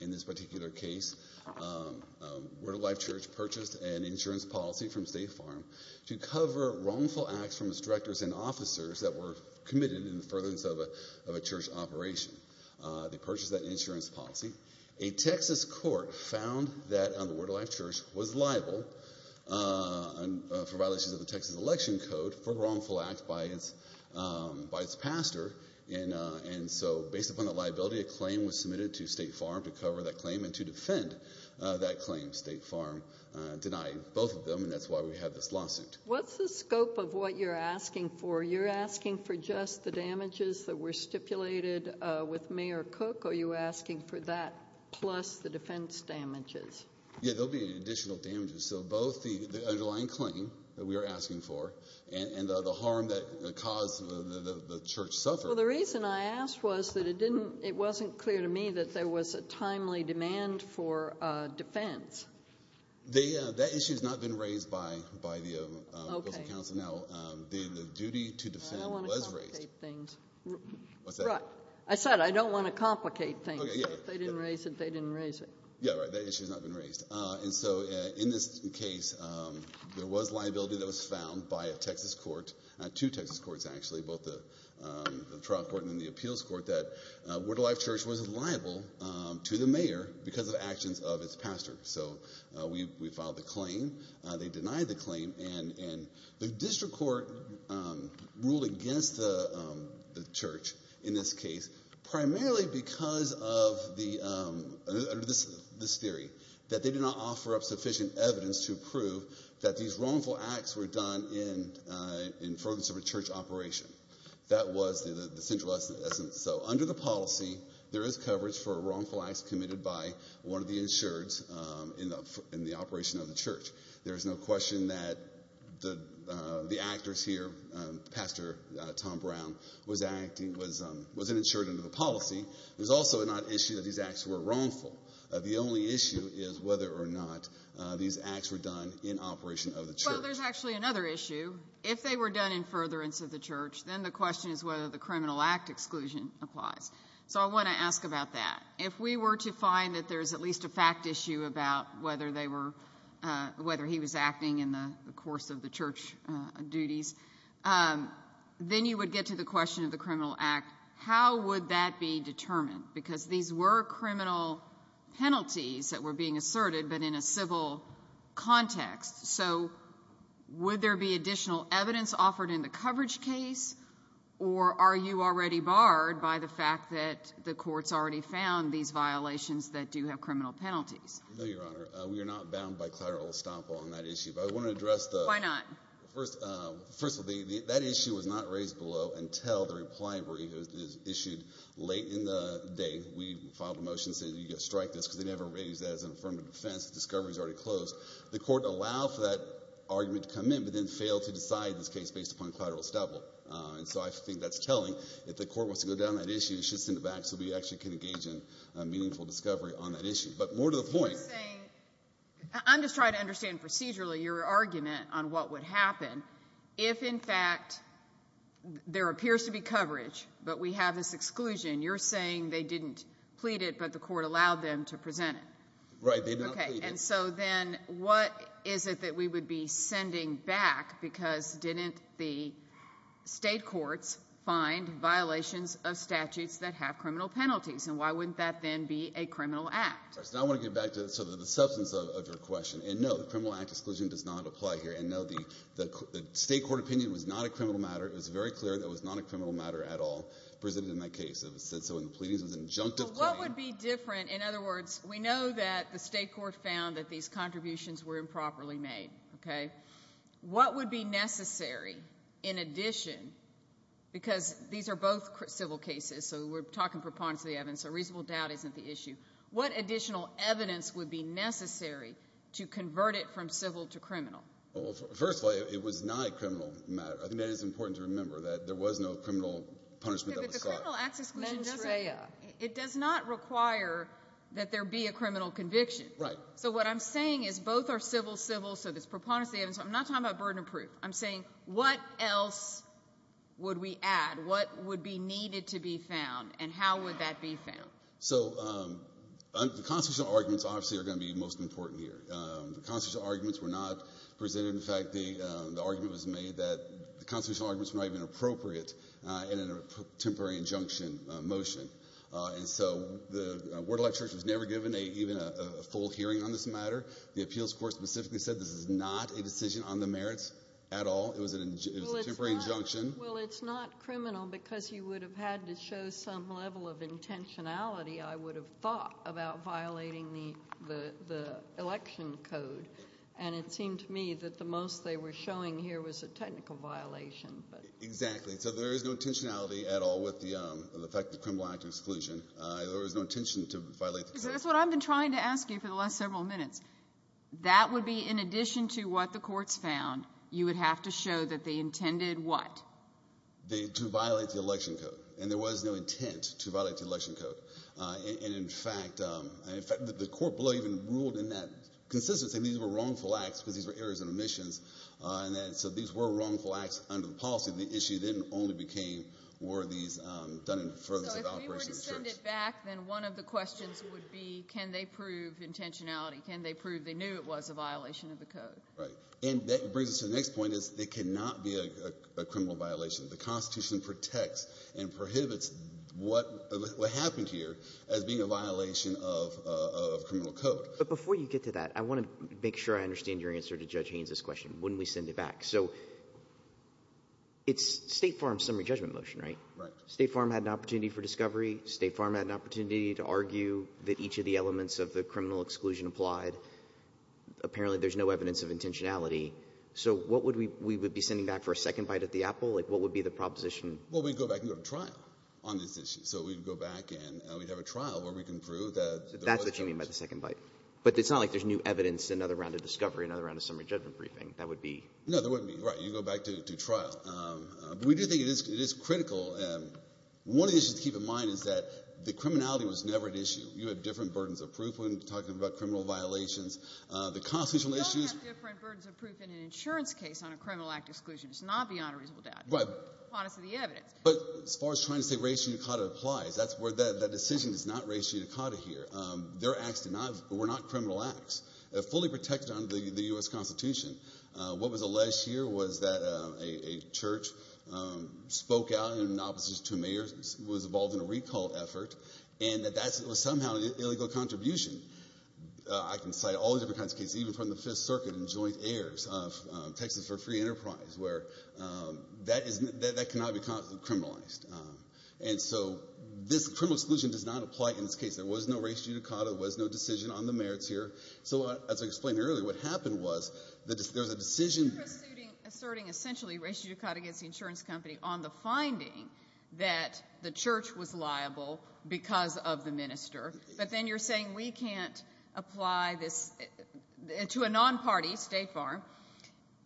In this particular case, Word of Life Church purchased an insurance policy from State Farm to cover wrongful acts from its directors and officers that were committed in the furtherance of a church operation. They purchased that insurance policy. A Texas court found that the Word of Life Church was liable for violations of the Texas Election Code for wrongful acts by its pastor, and so based upon that liability, a claim was submitted to State Farm to cover that claim and to defend that claim. State Farm denied both of them, and that's why we have this lawsuit. What's the scope of what you're asking for? You're asking for just the damages that were stipulated with Mayor Cook? Are you asking for that plus the defense damages? Yeah, there'll be additional damages. So both the underlying claim that we are asking for and the harm that caused the church suffer. Well, the reason I asked was that it didn't, it wasn't clear to me that there was a timely demand for defense. That issue has not been raised by the council now. The duty to defend was raised. I said I don't want to complicate things. If they didn't raise it, they didn't raise it. Yeah, right. That issue has not been raised. And so in this case, there was liability that was filed by a Texas court, two Texas courts actually, both the trial court and the appeals court, that Woodlife Church was liable to the mayor because of actions of its pastor. So we filed the claim. They denied the claim, and the district court ruled against the church in this case, primarily because of this theory, that they did not offer up sufficient evidence to prove that these wrongful acts were done in front of a church operation. That was the central essence. So under the policy, there is coverage for wrongful acts committed by one of the insureds in the operation of the church. There's no question that the actors here, Pastor Tom Brown, was an insured under the policy. There's also not an issue that these acts were wrongful. The only issue is whether or not these acts were done in operation of the church. Well, there's actually another issue. If they were done in furtherance of the church, then the question is whether the criminal act exclusion applies. So I want to ask about that. If we were to find that there's at least a fact issue about whether they were, whether he was acting in the course of the church duties, then you would get to the question of the criminal penalties that were being asserted, but in a civil context. So would there be additional evidence offered in the coverage case, or are you already barred by the fact that the court's already found these violations that do have criminal penalties? No, Your Honor. We are not bound by clerical estoppel on that issue, but I want to address the first. First of all, that issue was not raised below until the repliability was issued late in the day. We filed a motion saying you got to strike this because they never raised that as an affirmative defense. The discovery is already closed. The court allowed for that argument to come in, but then failed to decide this case based upon clerical estoppel. And so I think that's telling. If the court wants to go down that issue, it should send it back so we actually can engage in a meaningful discovery on that issue. But more to the point. I'm just trying to understand procedurally your argument on what would happen if, in fact, there appears to be coverage, but we have this exclusion. You're saying they didn't plead it, but the court allowed them to present it. Right. And so then what is it that we would be sending back? Because didn't the state courts find violations of statutes that have criminal penalties? And why wouldn't that then be a criminal act? I want to get back to the substance of your question. And no, the criminal act exclusion does not apply here. And no, the state court opinion was not a criminal matter. It was very clear that it was not a criminal matter at all presented in that case. It was said so in the pleadings. It was an injunctive claim. What would be different? In other words, we know that the state court found that these contributions were improperly made. Okay. What would be necessary in addition, because these are both civil cases, so we're talking preponderance of the evidence, so reasonable doubt isn't the issue. What additional evidence would be necessary to convert it from civil to criminal? Well, first of all, it was not a criminal matter. I think that is important to remember, that there was no criminal punishment that was sought. But the criminal act exclusion doesn't, it does not require that there be a criminal conviction. Right. So what I'm saying is both are civil, civil, so there's preponderance of the evidence. I'm not talking about burden of proof. I'm saying, what else would we add? What would be needed to be found? And how would that be found? So the constitutional arguments, obviously, are going to be most important here. The constitutional arguments were not presented. In fact, the argument was made that the constitutional arguments were not even appropriate in a temporary injunction motion. And so the word of life church was never given even a full hearing on this matter. The appeals court specifically said this is not a decision on the merits at all. It was a temporary injunction. Well, it's not criminal because you would have had to show some level of intentionality, I would have thought, about violating the election code. And it seemed to me that the most they were showing here was a technical violation. Exactly. So there is no intentionality at all with the fact that the criminal act exclusion, there was no intention to violate the code. That's what I've been trying to ask you for the last several minutes. That would be in addition to what the courts found, you would have to show that they intended what? To violate the election code. And there was no intent to violate the election code. And in fact, the court even ruled in that consistency that these were wrongful acts because these were errors and omissions. And so these were wrongful acts under the policy. The issue then only became were these done in furthest of operation. So if we were to send it back, then one of the questions would be can they prove intentionality? Can they prove they knew it was a violation of code? Right. And that brings us to the next point is it cannot be a criminal violation. The Constitution protects and prohibits what happened here as being a violation of criminal code. But before you get to that, I want to make sure I understand your answer to Judge Haynes' question. Wouldn't we send it back? So it's State Farm's summary judgment motion, right? Right. State Farm had an opportunity for discovery. State Farm had an opportunity to argue that each of the elements of the criminal exclusion applied. Apparently, there's no evidence of intentionality. So what would we be sending back for a second bite at the apple? Like, what would be the proposition? Well, we'd go back and go to trial on this issue. So we'd go back and we'd have a trial where we can prove that. That's what you mean by the second bite. But it's not like there's new evidence, another round of discovery, another round of summary judgment briefing. That would be. No, there wouldn't be. Right. You go back to trial. But we do think it is critical. One of the issues to keep in mind is that the criminality was never an issue. You had different burdens of proof when talking about criminal violations. The constitutional issues. You don't have different burdens of proof in an insurance case on a criminal act exclusion. It's not beyond a reasonable doubt. Right. Honestly, the evidence. But as far as trying to say racial unitacata applies, that's where that decision is not racial unitacata here. Their acts were not criminal acts. They're fully protected under the U.S. Constitution. What was alleged here was that a church spoke out in opposition to mayors, was involved in a recall effort, and that that was somehow an illegal contribution. I can cite all the different kinds of cases, even from the Fifth Circuit and joint heirs of Texas for Free Enterprise, where that cannot be criminalized. And so this criminal exclusion does not apply in this case. There was no racial unitacata. There was no decision on the merits here. So as I explained earlier, what happened was that there was a decision. You're asserting essentially racial unitacata against the insurance company on the finding that the church was liable because of the minister. But then you're saying we can't apply this to a non-party, State Farm,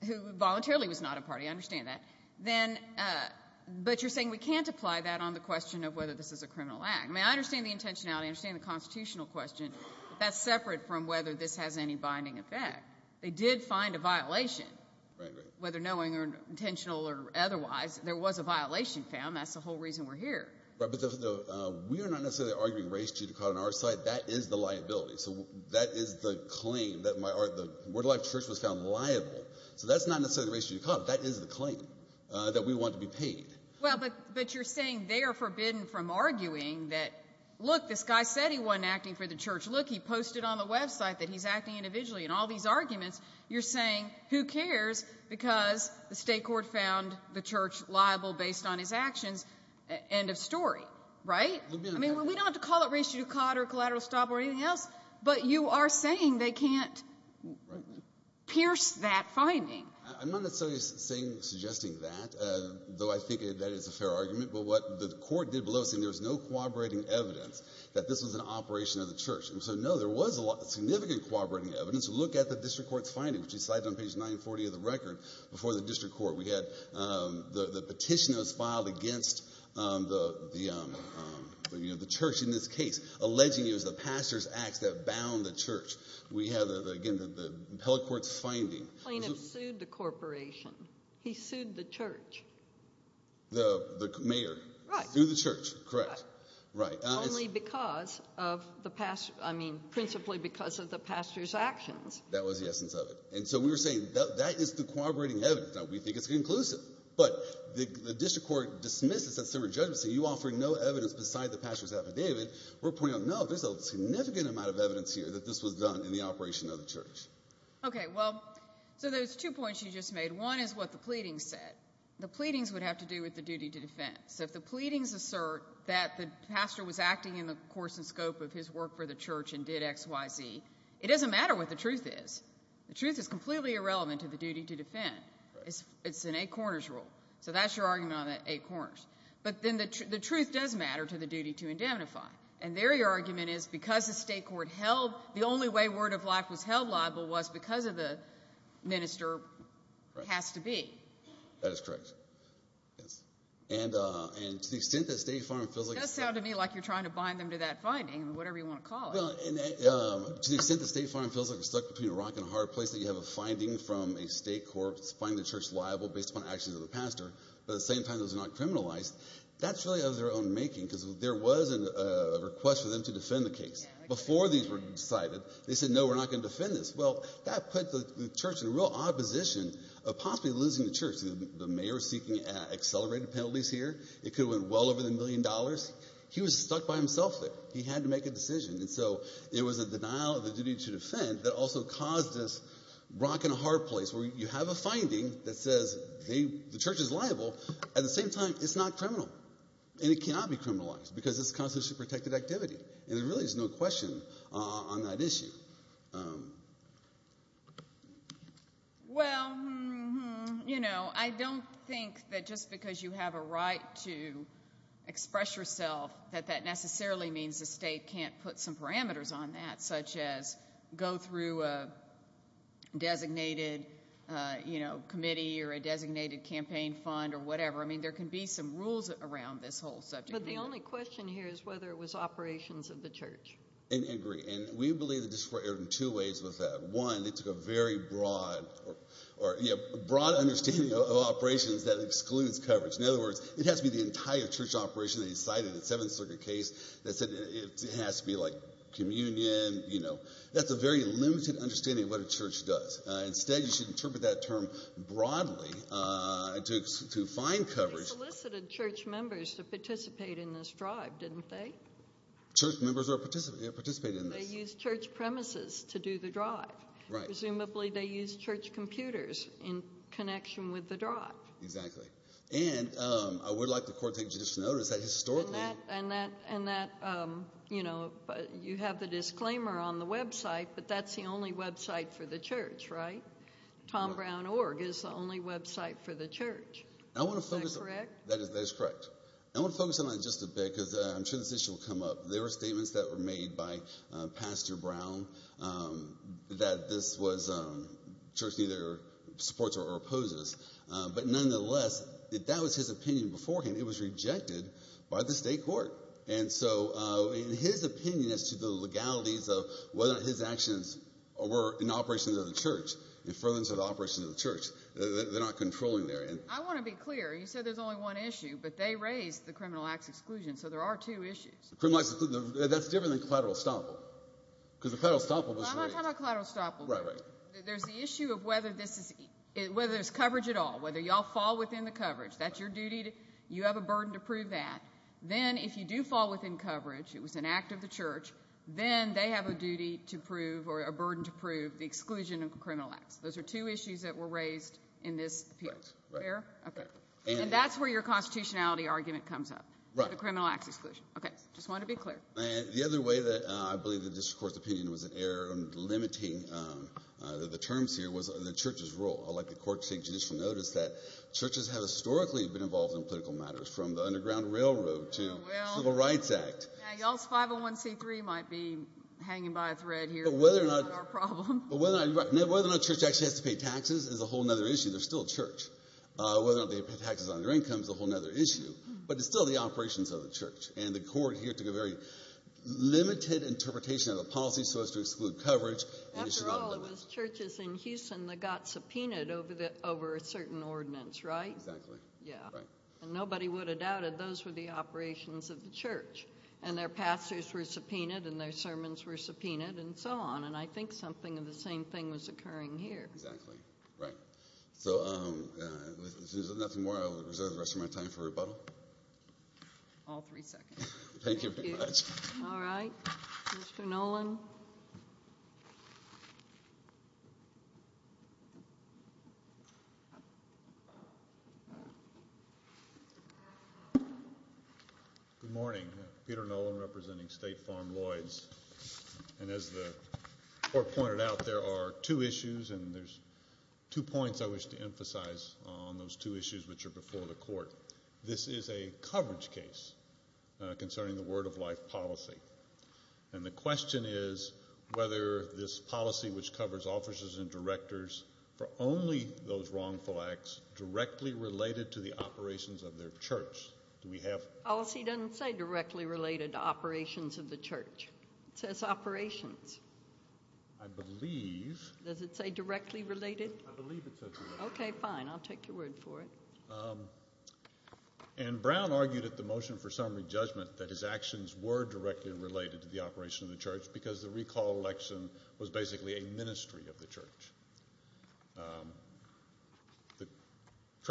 who voluntarily was not a party. I understand that. Then but you're saying we can't apply that on the question of whether this is a criminal act. I mean, I understand the intentionality. I understand the constitutional question. That's separate from whether this has any binding effect. They did find a violation, whether knowing or intentional or otherwise. There was a violation found. That's the whole reason we're here. But we are not necessarily arguing racial unitacata on our side. That is the liability. So that is the claim that my word of life church was found liable. So that's not necessarily racial unitacata. That is the claim that we want to be paid. Well, but but you're saying they are forbidden from arguing that, look, this guy said he wasn't acting for the church. Look, he posted on the website that he's acting individually. In all these arguments, you're saying who cares because the state court found the church liable based on his actions. End of story, right? I mean, we don't have to call it racial unitacata or collateral stop or anything else. But you are saying they can't pierce that finding. I'm not necessarily suggesting that, though I think that is a fair argument. But what the court did below saying there was no corroborating evidence that this was an operation of the church. And so, no, there was a lot of significant corroborating evidence. Look at the district court's finding, which is cited on page 940 of the record. Before the district court, we had the petition that was filed against the church in this case, alleging it was the pastor's acts that bound the church. We have, again, the appellate court's finding. The plaintiff sued the corporation. He sued the pastor's actions. That was the essence of it. And so we were saying that is the corroborating evidence. Now, we think it's conclusive. But the district court dismisses that similar judgment, saying you offer no evidence beside the pastor's affidavit. We're pointing out, no, there's a significant amount of evidence here that this was done in the operation of the church. Okay, well, so there's two points you just made. One is what the pleadings said. The pleadings would have to do with the duty to defense. If the pleadings assert that the pastor was acting in the course and scope of his work for the church and did XYZ, it doesn't matter what the truth is. The truth is completely irrelevant to the duty to defend. It's an eight corners rule. So that's your argument on the eight corners. But then the truth does matter to the duty to indemnify. And there your argument is, because the state court held, the only way word of life was held liable was because of the minister has to be. That is correct. Yes. And, and to the extent that State Farm feels like... It does sound to me like you're trying to bind them to that finding, whatever you want to call it. To the extent that State Farm feels like we're stuck between a rock and a hard place, that you have a finding from a state court finding the church liable based upon actions of the pastor, but at the same time, those are not criminalized. That's really of their own making, because there was a request for them to defend the case. Before these were decided, they said, no, we're not going to defend this. Well, that put the church in a real odd position of possibly losing the church. The mayor is seeking accelerated penalties here. It could have went well over the million dollars. He was stuck by himself there. He had to make a decision. And so it was a denial of the duty to defend that also caused this rock and a hard place where you have a finding that says the church is liable. At the same time, it's not criminal and it cannot be criminalized because it's a constitutionally protected activity. And there really is no question on that issue. Well, you know, I don't think that just because you have a right to express yourself that that necessarily means the state can't put some parameters on that, such as go through a designated, you know, committee or a designated campaign fund or whatever. I mean, there can be some rules around this whole subject. But the only question here is whether it was operations of the church. I agree. And we believe the district erred in two ways with that. One, they took a very broad understanding of operations that excludes coverage. In other words, it has to be the entire church operation that he cited in the Seventh Circuit case that said it has to be like communion. You know, that's a very limited understanding of what a church does. Instead, you should interpret that term broadly to find coverage. They solicited church members to participate in this drive, didn't they? Church members participated in this. They used church premises to do the drive. Right. Presumably they used church computers in connection with the drive. Exactly. And I would like the court to just notice that historically. And that, you know, you have the disclaimer on the website, but that's the only website for the church, right? Tom Brown Org is the only website for the church. Is that correct? That is correct. I want to focus on that just a bit because I'm sure this issue will come up. There were statements that were made by Pastor Brown that this was church neither supports or opposes. But nonetheless, that was his opinion beforehand. It was rejected by the state court. And so in his opinion as to the legalities of whether his actions were in operations of the church, in front of the operation of the church, they're not controlling there. I want to be clear. You said there's only one issue, but they raised the criminal acts exclusion. So there are two issues. That's different than collateral estoppel. There's the issue of whether there's coverage at all, whether y'all fall within the coverage. That's your duty. You have a burden to prove that. Then if you do fall within coverage, it was an act of the church. Then they have a duty to prove or a burden to prove the exclusion of criminal acts. Those are two issues that were raised in this appeal. And that's where your constitutionality argument comes up, the criminal acts exclusion. Okay. Just want to be clear. The other way that I believe that this Court's opinion was an error in limiting the terms here was the church's role. I'd like the court to take judicial notice that churches have historically been involved in political matters from the Underground Railroad to the Civil Rights Act. Now, y'all's 501c3 might be hanging by a thread here. But whether or not church actually has to pay taxes is a whole other issue. They're still church. Whether or not they pay taxes on their income is a whole other issue. But it's still the operations of the church. And the court here took a very limited interpretation of the policy so as to exclude coverage. After all, it was churches in Houston that got subpoenaed over a certain ordinance, right? Exactly. Yeah. And nobody would have doubted those were the operations of the church. And their pastors were subpoenaed and their sermons were subpoenaed and so on. And I think something of the same thing was occurring here. Exactly. Right. So, if there's nothing more, I'll reserve the rest of my time for rebuttal. All three seconds. Thank you very much. All right. Mr. Noland. Good morning. Peter Noland representing State Farm Lloyds. And as the court pointed out, there are two issues and there's two points I wish to emphasize on those two issues which before the court. This is a coverage case concerning the Word of Life policy. And the question is whether this policy which covers officers and directors for only those wrongful acts directly related to the operations of their church. Do we have... Policy doesn't say directly related to operations of the church. It says operations. I believe... Does it say directly related? I believe it says... Okay, fine. I'll take your word for it. And Brown argued at the motion for summary judgment that his actions were directly related to the operation of the church because the recall election was basically a ministry of the church. The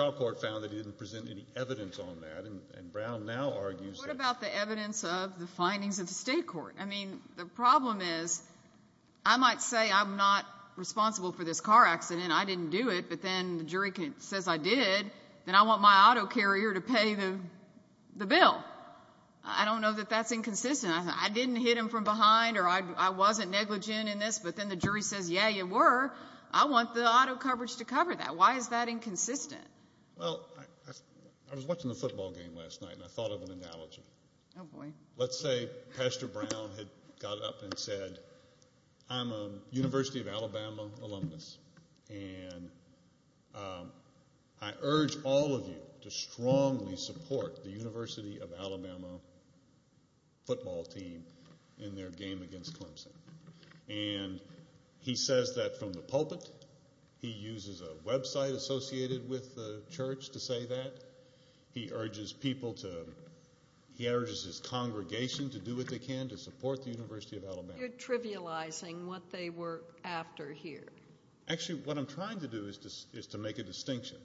trial court found that he didn't present any evidence on that. And Brown now argues... What about the evidence of the findings of the state court? I mean, the problem is I might say I'm not responsible for this car accident. I didn't do it. But then the jury says I did. Then I want my auto carrier to pay the bill. I don't know that that's inconsistent. I didn't hit him from behind or I wasn't negligent in this. But then the jury says, yeah, you were. I want the auto coverage to cover that. Why is that inconsistent? Well, I was watching the football game last night and I thought of an analogy. Oh boy. Let's say Pastor Brown had got up and said, I'm a University of Alabama alumnus and I urge all of you to strongly support the University of Alabama football team in their game against Clemson. And he says that from the pulpit. He uses a website associated with the church to say that. He urges people to... He urges his congregation to do what they can to support the University of Alabama. You're trivializing what they were after here. Actually, what I'm trying to do is to make a distinction.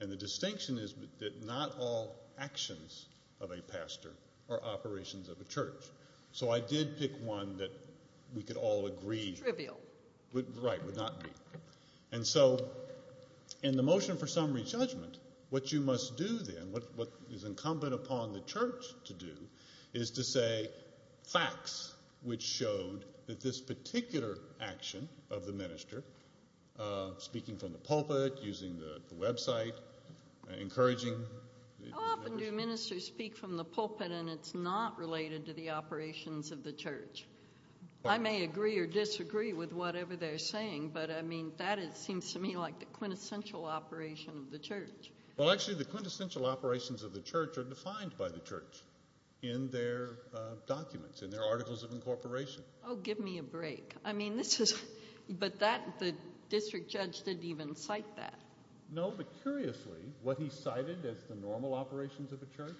And the distinction is that not all actions of a pastor are operations of a church. So I did pick one that we could all agree would not be. And so in the motion for summary judgment, what you must do then, what is incumbent upon the church to do, is to say facts which showed that this particular action of the minister, speaking from the pulpit, using the website, encouraging... How often do ministers speak from the pulpit and it's not related to the operations of the church? I may agree or disagree with whatever they're saying, but that seems to me like the quintessential operation of the church. Well, actually, the quintessential operations of the church are defined by the church in their documents, in their articles of incorporation. Oh, give me a break. I mean, this is... But the district judge didn't even cite that. No, but curiously, what he cited as the normal operations of a church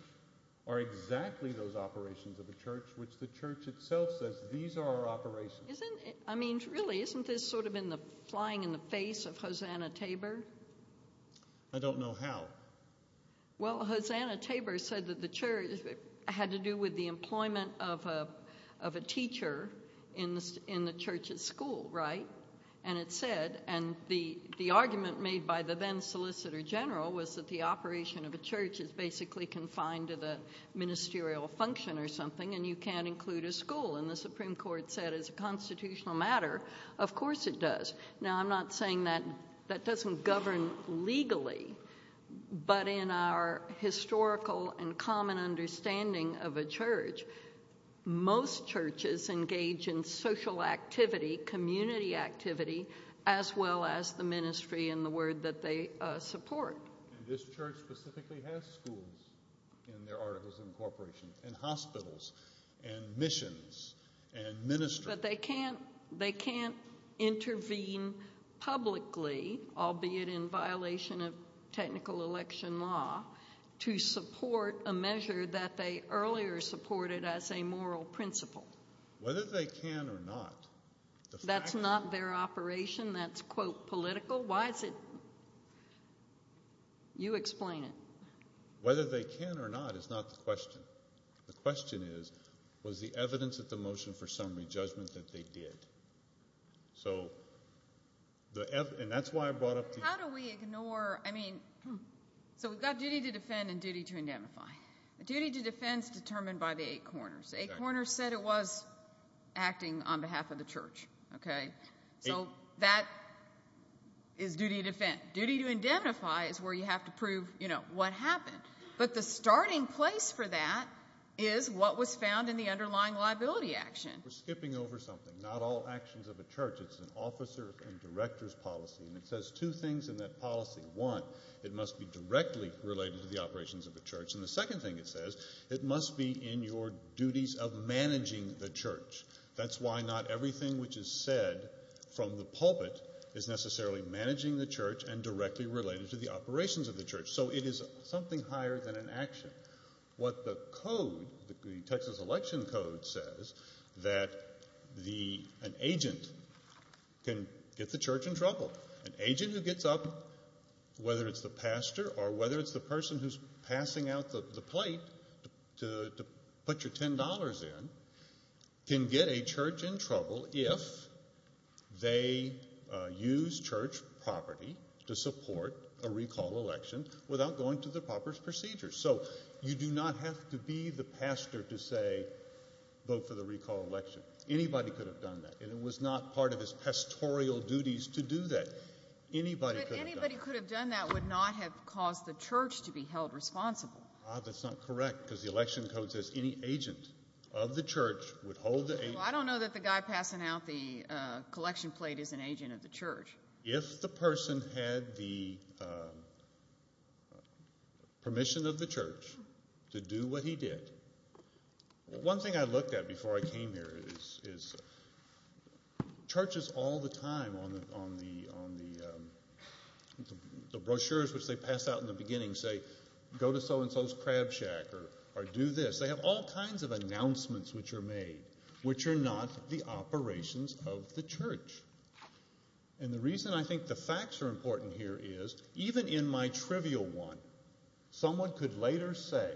are exactly those operations of a church which the church itself says, these are our operations. I mean, really, isn't this sort of in the flying in the air now? Well, Hosanna Tabor said that the church had to do with the employment of a teacher in the church's school, right? And it said, and the argument made by the then solicitor general was that the operation of a church is basically confined to the ministerial function or something, and you can't include a school. And the Supreme Court said, as a constitutional matter, of course it does. Now, I'm not saying that that doesn't govern legally, but in our historical and common understanding of a church, most churches engage in social activity, community activity, as well as the ministry and the word that they support. And this church specifically has schools in their articles of incorporation, and hospitals, and missions, and ministry. But they can't intervene publicly, albeit in violation of technical election law, to support a measure that they earlier supported as a moral principle. Whether they can or not, that's not their operation. That's, quote, political. Why is it? You explain it. Whether they can or not is not the question. The question is, was the evidence at the motion for summary judgment that they did? So, and that's why I brought up the- How do we ignore, I mean, so we've got duty to defend and duty to indemnify. Duty to defend is determined by the eight corners. The eight corners said it was acting on behalf of the church, okay? So, that is duty to defend. Duty to indemnify is where you have to prove, you know, what happened. But the starting place for that is what was found in the underlying liability action. We're skipping over something. Not all actions of a church. It's an officer and director's policy, and it says two things in that policy. One, it must be directly related to the operations of the church. And the second thing it says, it must be in your duties of managing the church. That's why not everything which is said from the pulpit is necessarily managing the church and directly related to the operations of the church. So, it is something higher than an action. What the code, the Texas election code says, that the, an agent can get the church in trouble. An agent who gets up, whether it's the pastor or whether it's the person who's passing out the plate to put your election without going to the proper procedures. So, you do not have to be the pastor to say vote for the recall election. Anybody could have done that, and it was not part of his pastoral duties to do that. Anybody could have done that. But anybody could have done that would not have caused the church to be held responsible. Ah, that's not correct, because the election code says any agent of the church would hold the agent. Well, I don't know that the guy passing out the uh, permission of the church to do what he did. One thing I looked at before I came here is, is churches all the time on the, on the, on the um, the brochures which they pass out in the beginning say go to so-and-so's crab shack or do this. They have all kinds of announcements which are made, which are not the operations of the church. And the reason I think the facts are important here is, even in my trivial one, someone could later say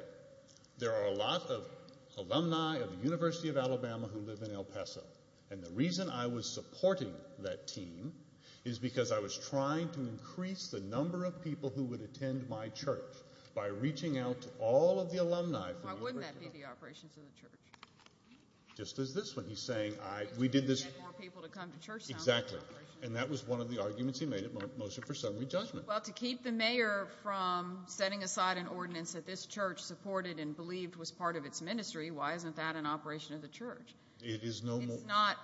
there are a lot of alumni of the University of Alabama who live in El Paso. And the reason I was supporting that team is because I was trying to increase the number of people who would attend my church by reaching out to all of the alumni. Why wouldn't that be the operations of the church? Just as this one, he's saying I, we did this, more people to come to church. Exactly. And that was one of the arguments he made at motion for summary judgment. Well, to keep the mayor from setting aside an ordinance that this church supported and believed was part of its ministry, why isn't that an operation of the church? It is not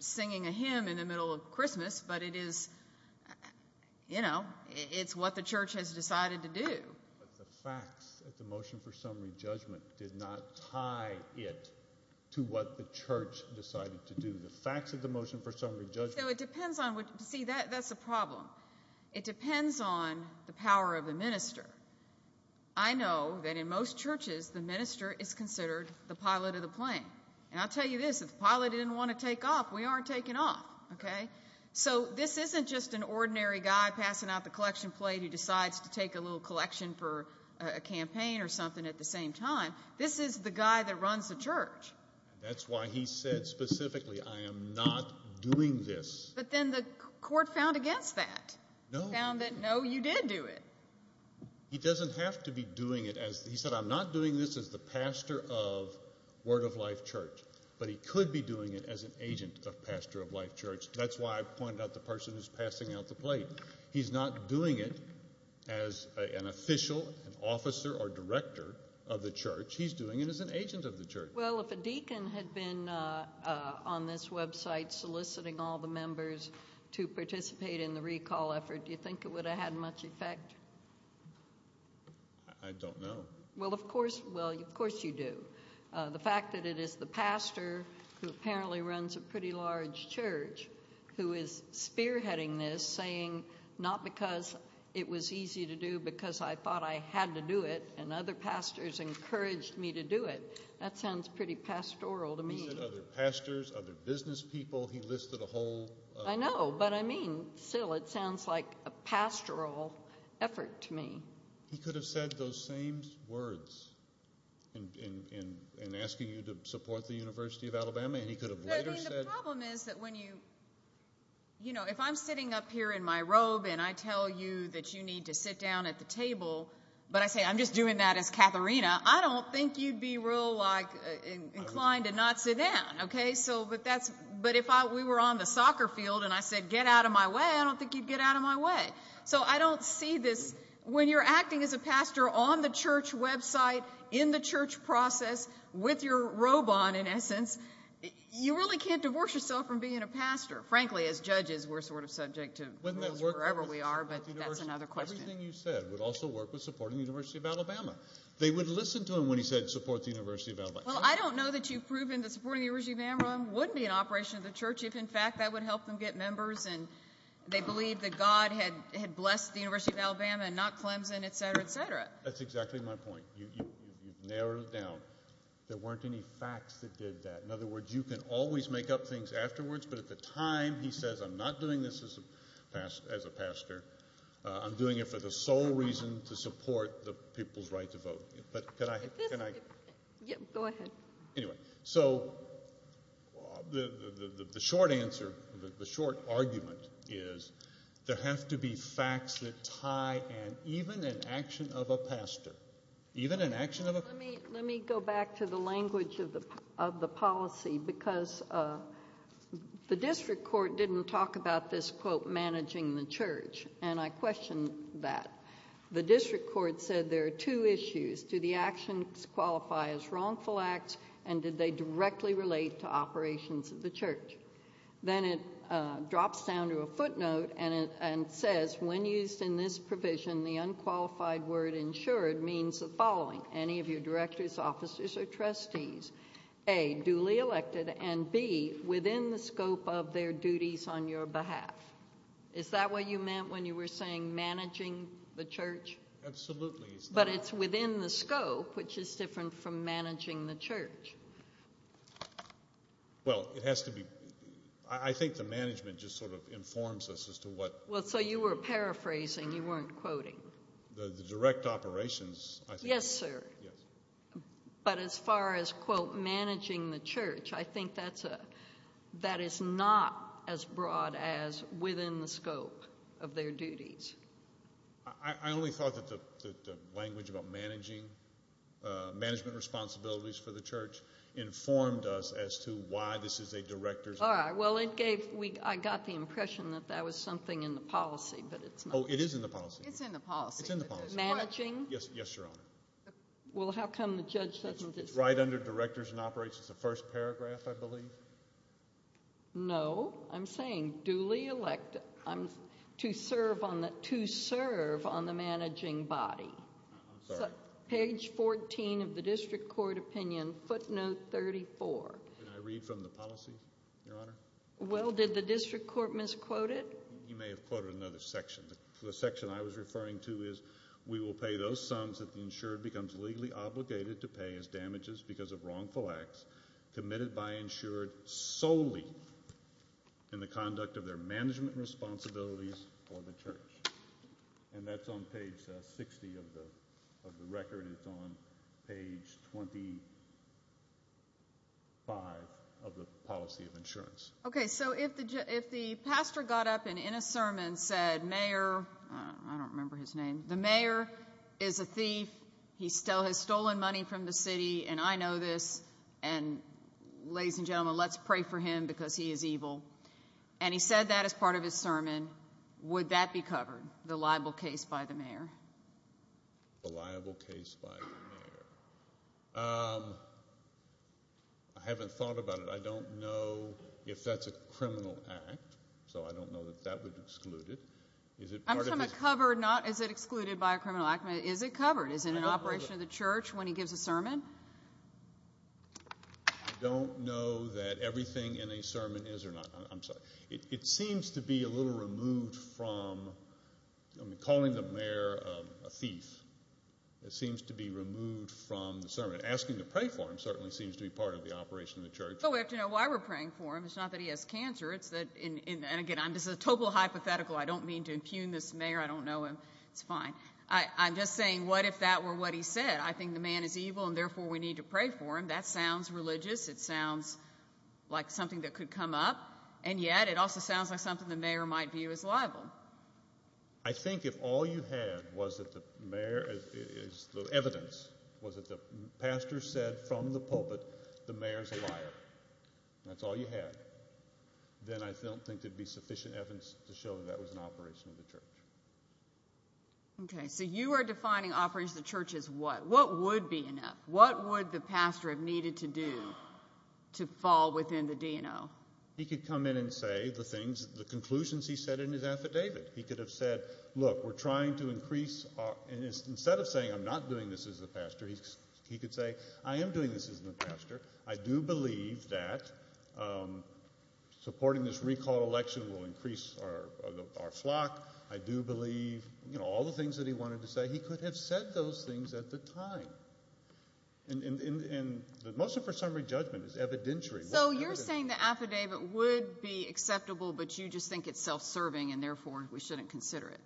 singing a hymn in the middle of Christmas, but it is, you know, it's what the church has decided to do. But the facts at the motion for summary judgment did not tie it to what the church decided to do. The facts of the motion for summary judgment. So it depends on what, see, that's the problem. It depends on the power of the minister. I know that in most churches, the minister is considered the pilot of the plane. And I'll tell you this, if the pilot didn't want to take off, we aren't taking off, okay? So this isn't just an ordinary guy passing out the collection plate who decides to take a little collection for a campaign or something at the same time. This is the guy that runs the church. That's why he said specifically, I am not doing this. But then the court found against that. No. Found that, no, you did do it. He doesn't have to be doing it as he said, I'm not doing this as the pastor of Word of Life Church, but he could be doing it as an agent of pastor of Life Church. That's why I pointed out the person who's passing out the plate. He's not doing it as an officer or director of the church. He's doing it as an agent of the church. Well, if a deacon had been on this website soliciting all the members to participate in the recall effort, do you think it would have had much effect? I don't know. Well, of course you do. The fact that it is the pastor who apparently runs a pretty large church who is spearheading this saying, not because it was easy to do because I thought I had to do it and other pastors encouraged me to do it. That sounds pretty pastoral to me. He said other pastors, other business people. He listed a whole... I know, but I mean, still, it sounds like a pastoral effort to me. He could have said those same words in asking you to support the University of Alabama. The problem is that if I'm sitting up here in my robe and I tell you that you need to sit down at the table, but I say, I'm just doing that as Katharina, I don't think you'd be real inclined to not sit down. But if we were on the soccer field and I said, get out of my way, I don't think you'd get out of my way. So I don't see this. When you're acting as a pastor on the church website, in the church process, with your robe on, in essence, you really can't divorce yourself from being a pastor. Frankly, as judges, we're sort of subject to rules wherever we are, but that's another question. Everything you said would also work with supporting the University of Alabama. They would listen to him when he said support the University of Alabama. Well, I don't know that you've proven that supporting the University of Alabama wouldn't be an operation of the church, if in fact that would help them get members and they believe that God had blessed the University of Alabama and not Clemson, et cetera, et cetera. That's exactly my point. You've narrowed it down. There weren't any facts that did that. In other words, you can always make up things afterwards, but at the time, he says, I'm not doing this as a pastor. I'm doing it for the sole reason to support the people's right to vote. Go ahead. Anyway, so the short answer, the short argument is there have to be facts that tie even an action of a pastor, even an action of a pastor. Let me go back to the language of the policy because the district court didn't talk about this, quote, managing the church, and I questioned that. The district court said there are two issues. Do the actions qualify as wrongful acts, and did they directly relate to operations of the church? Then it drops down to a footnote and says, when used in this provision, the unqualified word insured means the following, any of your directors, officers, or trustees, A, duly elected, and B, within the scope of their duties on your behalf. Is that what you meant when you were saying managing the church? Absolutely. But it's within the scope, which is different from managing the church. Well, it has to be. I think the management just sort of informs us as to what. Well, so you were paraphrasing. You weren't quoting. The direct operations, I think. Yes, sir. Yes. But as far as, quote, managing the church, I think that's a, that is not as broad as within the scope of their duties. I only thought that the language about managing, management responsibilities for the church, informed us as to why this is a director's. All right. Well, it gave, I got the impression that that was something in the policy, but it's not. Oh, it is in the policy. It's in the policy. It's in the policy. Managing? Yes, Your Honor. Well, how come the judge doesn't? It's right under directors and operations, the first paragraph, I believe. No, I'm saying duly elected, to serve on the managing body. I'm sorry. Page 14 of the district court opinion, footnote 34. Can I read from the policy, Your Honor? Well, did the district court misquote it? You may have quoted another section. The section I was referring to is, we will pay those sums that the insured becomes legally obligated to pay as damages because of wrongful acts committed by insured solely in the conduct of their management responsibilities for the church. And that's on page 60 of the record. It's on page 25 of the policy of insurance. Okay. So if the pastor got up and in a sermon said, Mayor, I don't remember his name. The mayor is a thief. He still has stolen money from the city. And I know this. And ladies and gentlemen, let's pray for him because he is evil. And he said that as part of his sermon. Would that be covered, the liable case by the mayor? The liable case by the mayor. I haven't thought about it. I don't know if that's a criminal act. So I don't know that that would exclude it. I'm talking about covered, not is it excluded by a criminal act. Is it covered? Is it an operation of the church when he gives a sermon? I don't know that everything in a sermon is or not. I'm sorry. It seems to be a little removed from calling the mayor a thief. It seems to be removed from the sermon. Asking to pray for him certainly seems to be part of the operation of the church. So we have to know why we're praying for him. It's not that he has cancer. It's that in and again, I'm just a total hypothetical. I don't mean to impugn this mayor. I don't know him. It's fine. I'm just saying, what if that were what he said? I think the man is evil and therefore we need to pray for him. That sounds religious. It sounds like something that could come up. And yet it also sounds like something the mayor might view as liable. I think if all you had was that the mayor is the evidence, was that the pastor said from the pulpit, the mayor's a liar. That's all you had. Then I don't think there'd be sufficient evidence to show that that was an operation of the church. Okay. So you are defining operation of the church as what? What would be enough? What would the pastor have needed to do to fall within the DNO? He could come in and say the things, the conclusions he said in his affidavit. He could have said, look, we're trying to increase. Instead of saying, I'm not doing this as a pastor. He could say, I am doing this as a pastor. I do believe that supporting this recall election will increase our flock. I do believe, you know, all the things that he wanted to say. He could have said those things at the time. And the motion for summary judgment is evidentiary. So you're saying the affidavit would be acceptable, but you just think it's self-serving and therefore we shouldn't consider it.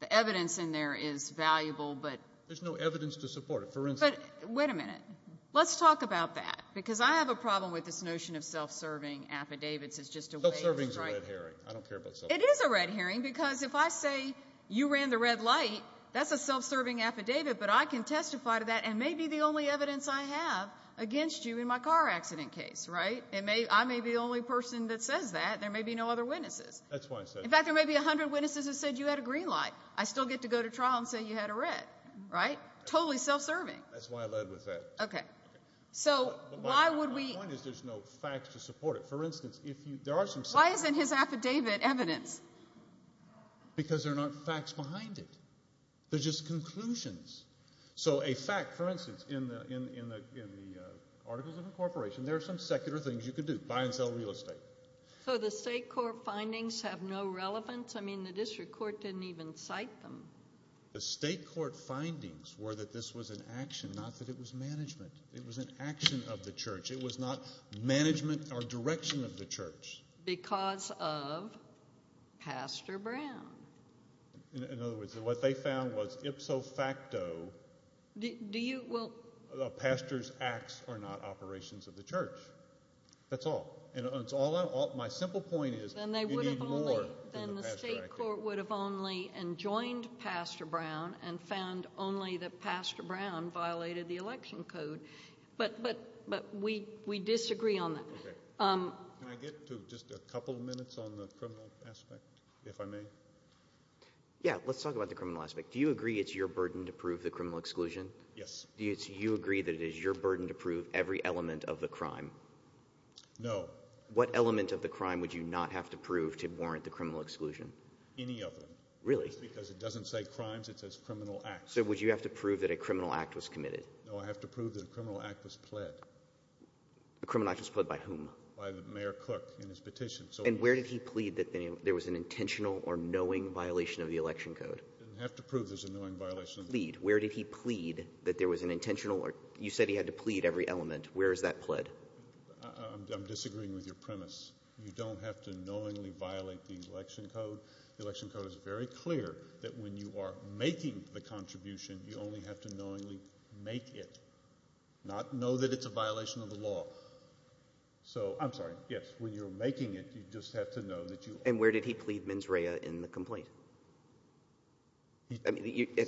The evidence in there is valuable, but there's no evidence to support it. For instance, wait a minute. Let's talk about that because I have a problem with this notion of self-serving affidavits. It's just a red herring because if I say you ran the red light, that's a self-serving affidavit, but I can testify to that and may be the only evidence I have against you in my car accident case, right? It may, I may be the only person that says that. There may be no other witnesses. That's why I said it. In fact, there may be a hundred witnesses who said you had a green light. I still get to go to trial and say you had a red, right? Totally self-serving. That's why I led with that. Okay. So why would we... My point is there's no facts to support it. For instance, if you, there are some... Why isn't his affidavit evidence? Because there aren't facts behind it. They're just conclusions. So a fact, for instance, in the Articles of Incorporation, there are some secular things you could do, buy and sell real estate. So the state court findings have no relevance? I mean, the district court didn't even cite them. The state court findings were that this was an action, not that it was management. It was an action of the church. It was not management or direction of the church. Because of Pastor Brown. In other words, what they found was ipso facto... Do you... Well... The pastor's acts are not operations of the church. That's all. And it's all... My simple point is... Then they would have only... Then the state court would have only enjoined Pastor Brown and found only that Pastor Brown violated the election code. But we disagree on that. Okay. Can I get to just a couple of minutes on the criminal aspect, if I may? Yeah. Let's talk about the criminal aspect. Do you agree it's your burden to prove the criminal exclusion? Yes. Do you agree that it is your burden to prove every element of the crime? No. What element of the crime would you not have to prove to warrant the criminal exclusion? Any of them. Really? Because it doesn't say crimes. It says criminal acts. So would you have to prove that a criminal act was committed? No, I have to prove that a criminal act was pled. A criminal act was pled by whom? By Mayor Cook in his petition. And where did he plead that there was an intentional or knowing violation of the election code? Didn't have to prove there's a knowing violation. Plead. Where did he plead that there was an intentional or... You said he had to plead every element. Where is that pled? I'm disagreeing with your premise. You don't have to knowingly violate the election code. The election code is very clear that when you are making the contribution, you only have to knowingly make it. Not know that it's a violation of the law. So... I'm sorry. Yes. When you're making it, you just have to know that you... And where did he plead mens rea in the complaint?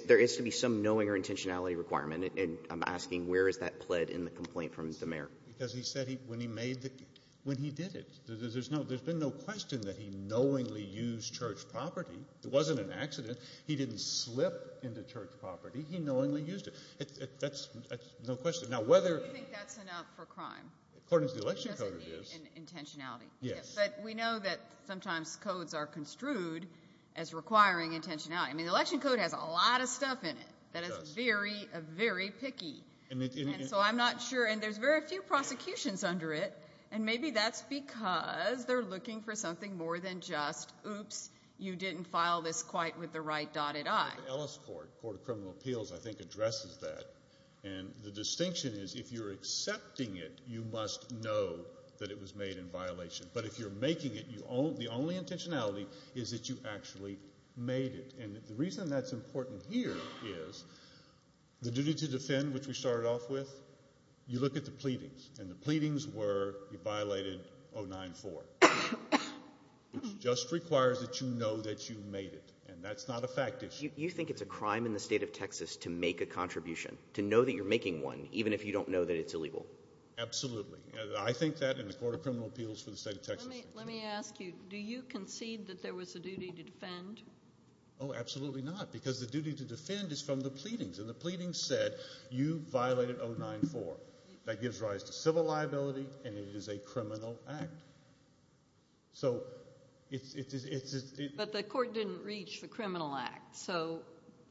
There is to be some knowing or intentionality requirement. And I'm asking where is that pled in the complaint from the mayor? Because he said when he made the... When he did it, there's no... There's been no question that he knowingly used church property. It wasn't an accident. He didn't slip into church property. He knowingly used it. That's no question. Now, whether... Do you think that's enough for crime? According to the election code, it is. Intentionality. Yes. But we know that sometimes codes are construed as requiring intentionality. I mean, the election code has a lot of stuff in it that is very, very picky. And so I'm not sure. And there's very few prosecutions under it. And maybe that's because they're looking for something more than just, oops, you didn't file this quite with the right dotted I. Ellis Court, Court of Criminal Appeals, I think addresses that. And the distinction is if you're accepting it, you must know that it was made in violation. But if you're making it, the only intentionality is that you actually made it. And the reason that's important here is the duty to defend, which we started off with, you look at the pleadings. And the pleadings were you violated 094, which just requires that you know that you made it. And that's not a fact issue. You think it's a crime in the state of Texas to make a contribution, to know that you're making one, even if you don't know that it's illegal? Absolutely. I think that in the Court of Criminal Appeals for the state of Texas. Let me ask you, do you concede that there was a duty to defend? Oh, absolutely not. Because the duty to defend is from the pleadings. And the pleadings said you violated 094. That gives rise to civil liability. And it is a criminal act. So it's... But the court didn't reach the criminal act. So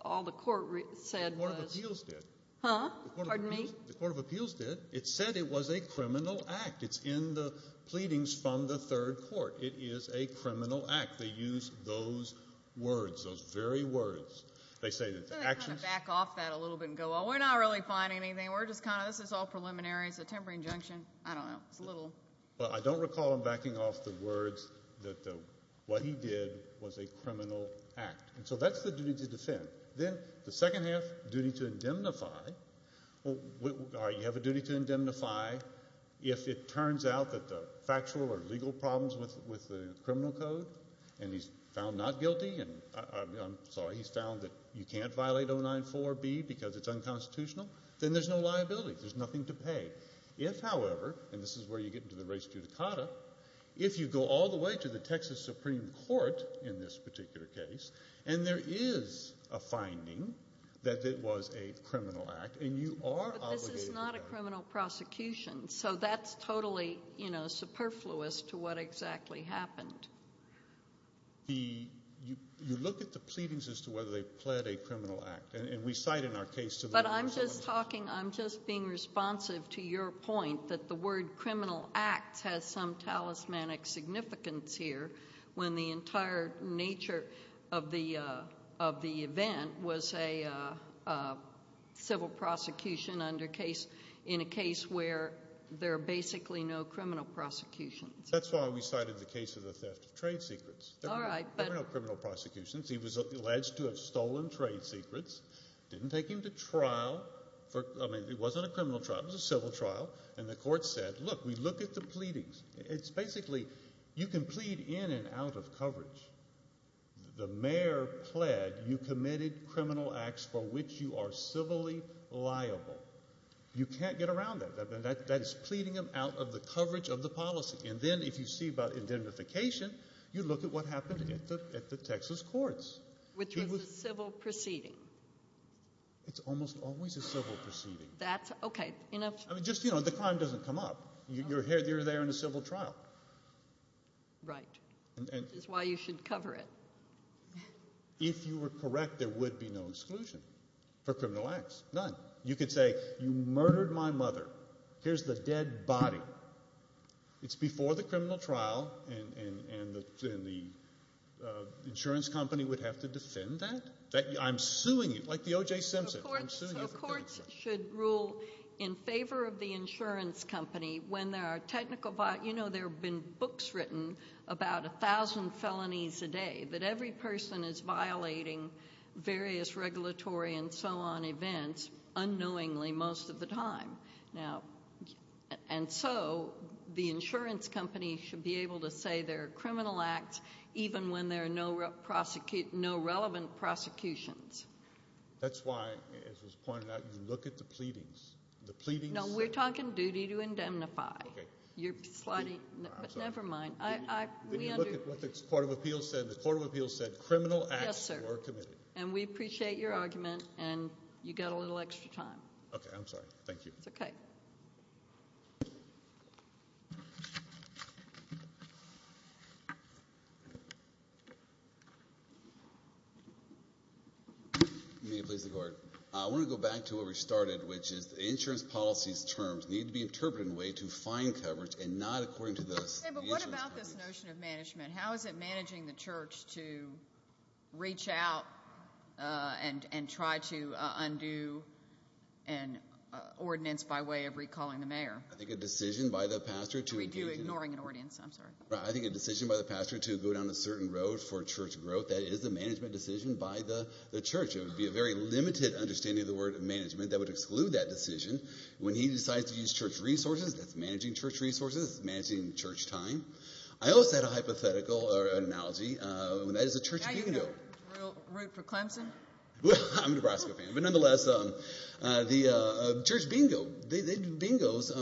all the court said was... The Court of Appeals did. Huh? Pardon me? The Court of Appeals did. It said it was a criminal act. It's in the pleadings from the third court. It is a criminal act. They use those words, those very words. They say that the actions... Can I kind of back off that a little bit and go, well, we're not really finding anything. We're just kind of... This is all preliminary. It's a temporary injunction. I don't know. It's a little... Well, I don't recall him backing off the words that what he did was a criminal act. And so that's the duty to defend. Then the second half, duty to indemnify. Well, you have a duty to indemnify. If it turns out that the factual or legal problems with the criminal code, and he's found not guilty, and I'm sorry, he's found that you can't violate 094B because it's unconstitutional, then there's no liability. There's nothing to pay. If, however, and this is where you get into the res judicata, if you go all the way to the Texas Supreme Court in this particular case, and there is a finding that it was a criminal act and you are... But this is not a criminal prosecution. So that's totally superfluous to what exactly happened. You look at the pleadings as to whether they pled a criminal act. And we cite in our case... But I'm just talking, I'm just being responsive to your point that the word criminal acts has some talismanic significance here when the entire nature of the event was a civil prosecution in a case where there are basically no criminal prosecutions. That's why we cited the case of the theft of trade secrets. There were no criminal prosecutions. He was alleged to have stolen trade secrets, didn't take him to trial for... I mean, it wasn't a criminal trial. It was a civil trial. And the court said, look, we look at the pleadings. It's basically, you can plead in and out of coverage. The mayor pled you committed criminal acts for which you are civilly liable. You can't get around that. That is pleading him out of the coverage of the policy. And then if you see about indemnification, you look at what happened at the Texas courts. Which was a civil proceeding. It's almost always a civil proceeding. That's... Okay, enough. I mean, just, you know, the crime doesn't come up. You're there in a civil trial. Right. That's why you should cover it. If you were correct, there would be no exclusion for criminal acts. None. You could say, you murdered my mother. Here's the dead body. It's before the criminal trial. And the insurance company would have to defend that. I'm suing you. Like the O.J. Simpson. The courts should rule in favor of the insurance company when there are technical... You know, there have been books written about a thousand felonies a day. That every person is violating various regulatory and so on events. Unknowingly, most of the time. Now, and so, the insurance company should be able to say there are criminal acts even when there are no relevant prosecutions. That's why, as was pointed out, you look at the pleadings. The pleadings... No, we're talking duty to indemnify. Okay. You're plotting... But never mind. Did you look at what the Court of Appeals said? The Court of Appeals said criminal acts were committed. And we appreciate your argument. And you got a little extra time. Okay, I'm sorry. Thank you. It's okay. May it please the Court. I want to go back to where we started, which is the insurance policy's terms need to be interpreted in a way to find coverage and not according to the... Okay, but what about this notion of management? How is it managing the church to reach out and try to undo an ordinance by way of recalling the mayor? I think a decision by the pastor to... We do ignoring an ordinance. I'm sorry. I think a decision by the pastor to go down a certain road for church growth. That is a management decision by the church. It would be a very limited understanding of the word management that would exclude that decision when he decides to use church resources. That's managing church resources. That's managing church time. I also had a hypothetical or analogy. That is a church bingo. Now you have a real root for Clemson. Well, I'm a Nebraska fan. But nonetheless, the church bingo. They do bingos. A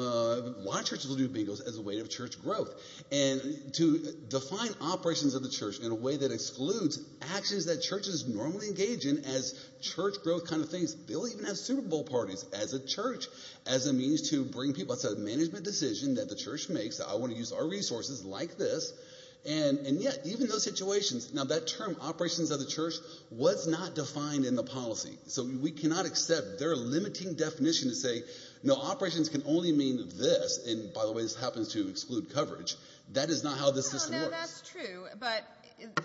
lot of churches will do bingos as a way of church growth. And to define operations of the church in a way that excludes actions that churches normally engage in as church growth kind of things. They'll even have Super Bowl parties as a church as a means to bring people... It's a management decision that the church makes. I want to use our resources like this. And yet, even those situations... Now that term, operations of the church, was not defined in the policy. So we cannot accept their limiting definition to say, no, operations can only mean this. And by the way, this happens to exclude coverage. That is not how this system works. No, that's true. But the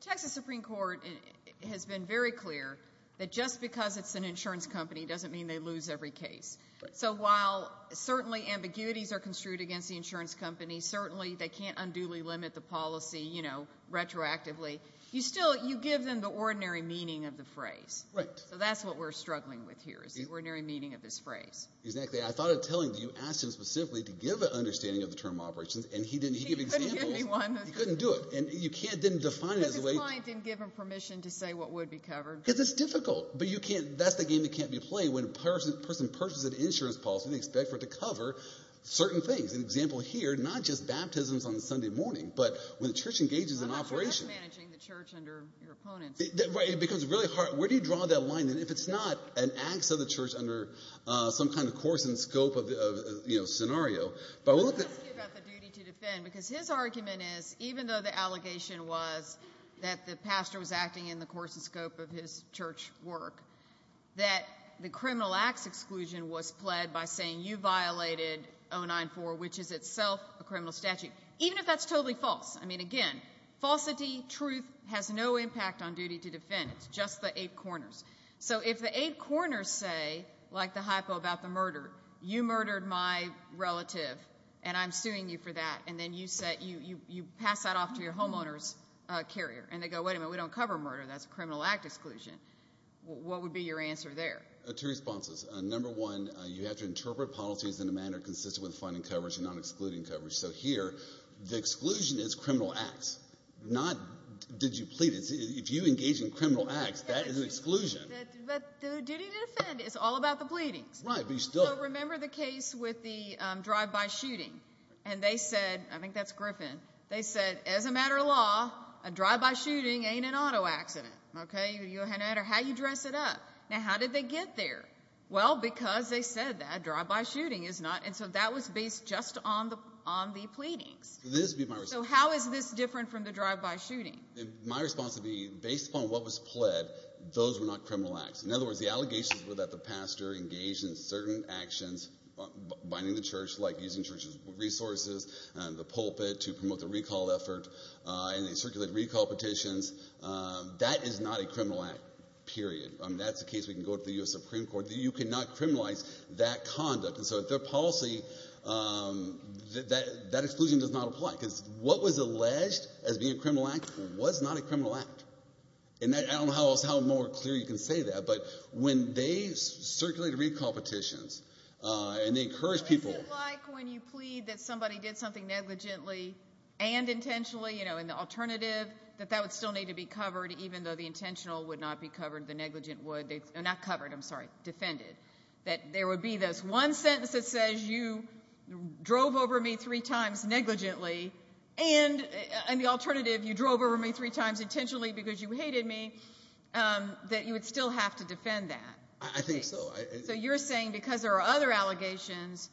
Texas Supreme Court has been very clear that just because it's an insurance company doesn't mean they lose every case. So while certainly ambiguities are construed against the insurance company, certainly they can't unduly limit the policy, you know, retroactively. You still... You give them the ordinary meaning of the phrase. Right. So that's what we're struggling with here is the ordinary meaning of this phrase. Exactly. I thought of telling you... Asked him specifically to give an understanding of the term operations. And he didn't. He gave examples. He couldn't do it. And you can't then define it as a way... Because his client didn't give him permission to say what would be covered. Because it's difficult. But you can't... That's the game that can't be played when a person purchases an insurance policy and they expect for it to cover certain things. An example here, not just baptisms on a Sunday morning, but when the church engages in operation. I'm not sure that's managing the church under your opponents. Right. Because it's really hard. Where do you draw that line? And if it's not an acts of the church under some kind of course and scope of, you know, scenario. Let me ask you about the duty to defend. Because his argument is, even though the allegation was that the pastor was acting in the course and scope of his church work, that the criminal acts exclusion was pled by saying you violated 094, which is itself a criminal statute. Even if that's totally false. I mean, again, falsity, truth has no impact on duty to defend. It's just the eight corners. So if the eight corners say, like the hypo about the murder, you murdered my relative and I'm suing you for that. And then you pass that off to your homeowner's carrier. And they go, wait a minute, we don't cover murder. That's a criminal act exclusion. What would be your answer there? Two responses. Number one, you have to interpret policies in a manner consistent with finding coverage and not excluding coverage. So here, the exclusion is criminal acts, not did you plead. If you engage in criminal acts, that is an exclusion. But the duty to defend is all about the pleadings. Right, but you still. Remember the case with the drive-by shooting. And they said, I think that's Griffin. They said, as a matter of law, a drive-by shooting ain't an auto accident. OK, no matter how you dress it up. Now, how did they get there? Well, because they said that drive-by shooting is not. And so that was based just on the on the pleadings. So how is this different from the drive-by shooting? My response would be, based upon what was pled, those were not criminal acts. In other words, the allegations were that the pastor engaged in certain actions, binding the church, like using church's resources and the pulpit to promote the recall effort, and they circulated recall petitions. That is not a criminal act, period. That's a case we can go to the U.S. Supreme Court. You cannot criminalize that conduct. And so their policy, that exclusion does not apply. What was alleged as being a criminal act was not a criminal act. And I don't know how else, how more clear you can say that. But when they circulated recall petitions, and they encouraged people. What is it like when you plead that somebody did something negligently and intentionally, you know, in the alternative, that that would still need to be covered, even though the intentional would not be covered, the negligent would, not covered, I'm sorry, defended? That there would be this one sentence that says, you drove over me three times negligently, and in the alternative, you drove over me three times intentionally because you hated me, that you would still have to defend that. I think so. So you're saying, because there are other allegations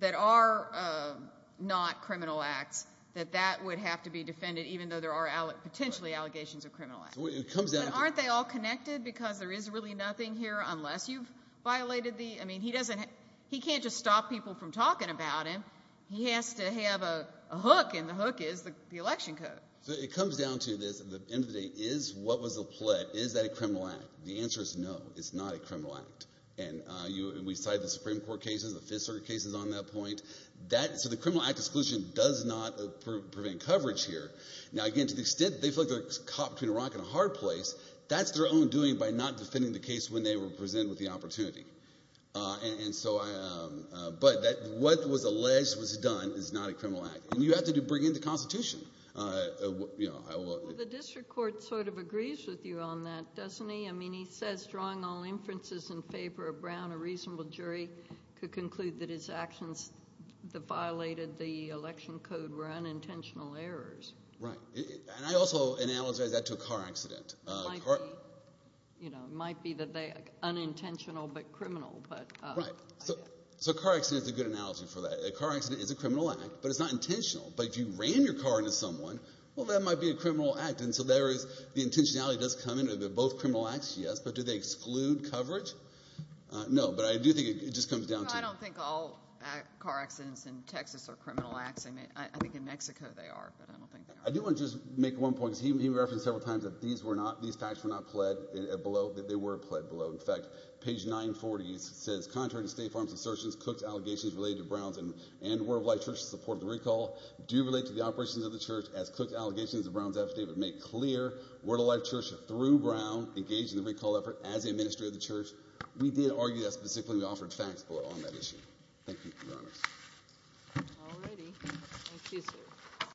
that are not criminal acts, that that would have to be defended, even though there are potentially allegations of criminal acts. Aren't they all connected? Because there is really nothing here, unless you've violated the, I mean, he doesn't, just stop people from talking about him. He has to have a hook, and the hook is the election code. So it comes down to this, at the end of the day, is, what was the plot? Is that a criminal act? The answer is no, it's not a criminal act. And you, we cite the Supreme Court cases, the Fifth Circuit cases on that point. That, so the criminal act exclusion does not prevent coverage here. Now, again, to the extent they feel like they're caught between a rock and a hard place, that's their own doing by not defending the case when they were presented with the opportunity. And so, but what was alleged was done is not a criminal act. And you have to bring in the Constitution. The district court sort of agrees with you on that, doesn't he? I mean, he says, drawing all inferences in favor of Brown, a reasonable jury could conclude that his actions that violated the election code were unintentional errors. Right, and I also analogize that to a car accident. It might be, you know, it might be that they, unintentional but criminal, but. Right, so a car accident is a good analogy for that. A car accident is a criminal act, but it's not intentional. But if you ran your car into someone, well, that might be a criminal act. And so there is, the intentionality does come into both criminal acts, yes. But do they exclude coverage? No, but I do think it just comes down to. I don't think all car accidents in Texas are criminal acts. I think in Mexico they are, but I don't think they are. I do want to just make one point, because he referenced several times that these facts were not pled below, that they were pled below. In fact, page 940 says, contrary to State Farm's assertions, Cook's allegations related to Brown's and World Life Church's support of the recall do relate to the operations of the church, as Cook's allegations of Brown's affidavit make clear World Life Church, through Brown, engaged in the recall effort as the administrator of the church. We did argue that specifically, we offered facts below on that issue. All righty. Thank you, sir.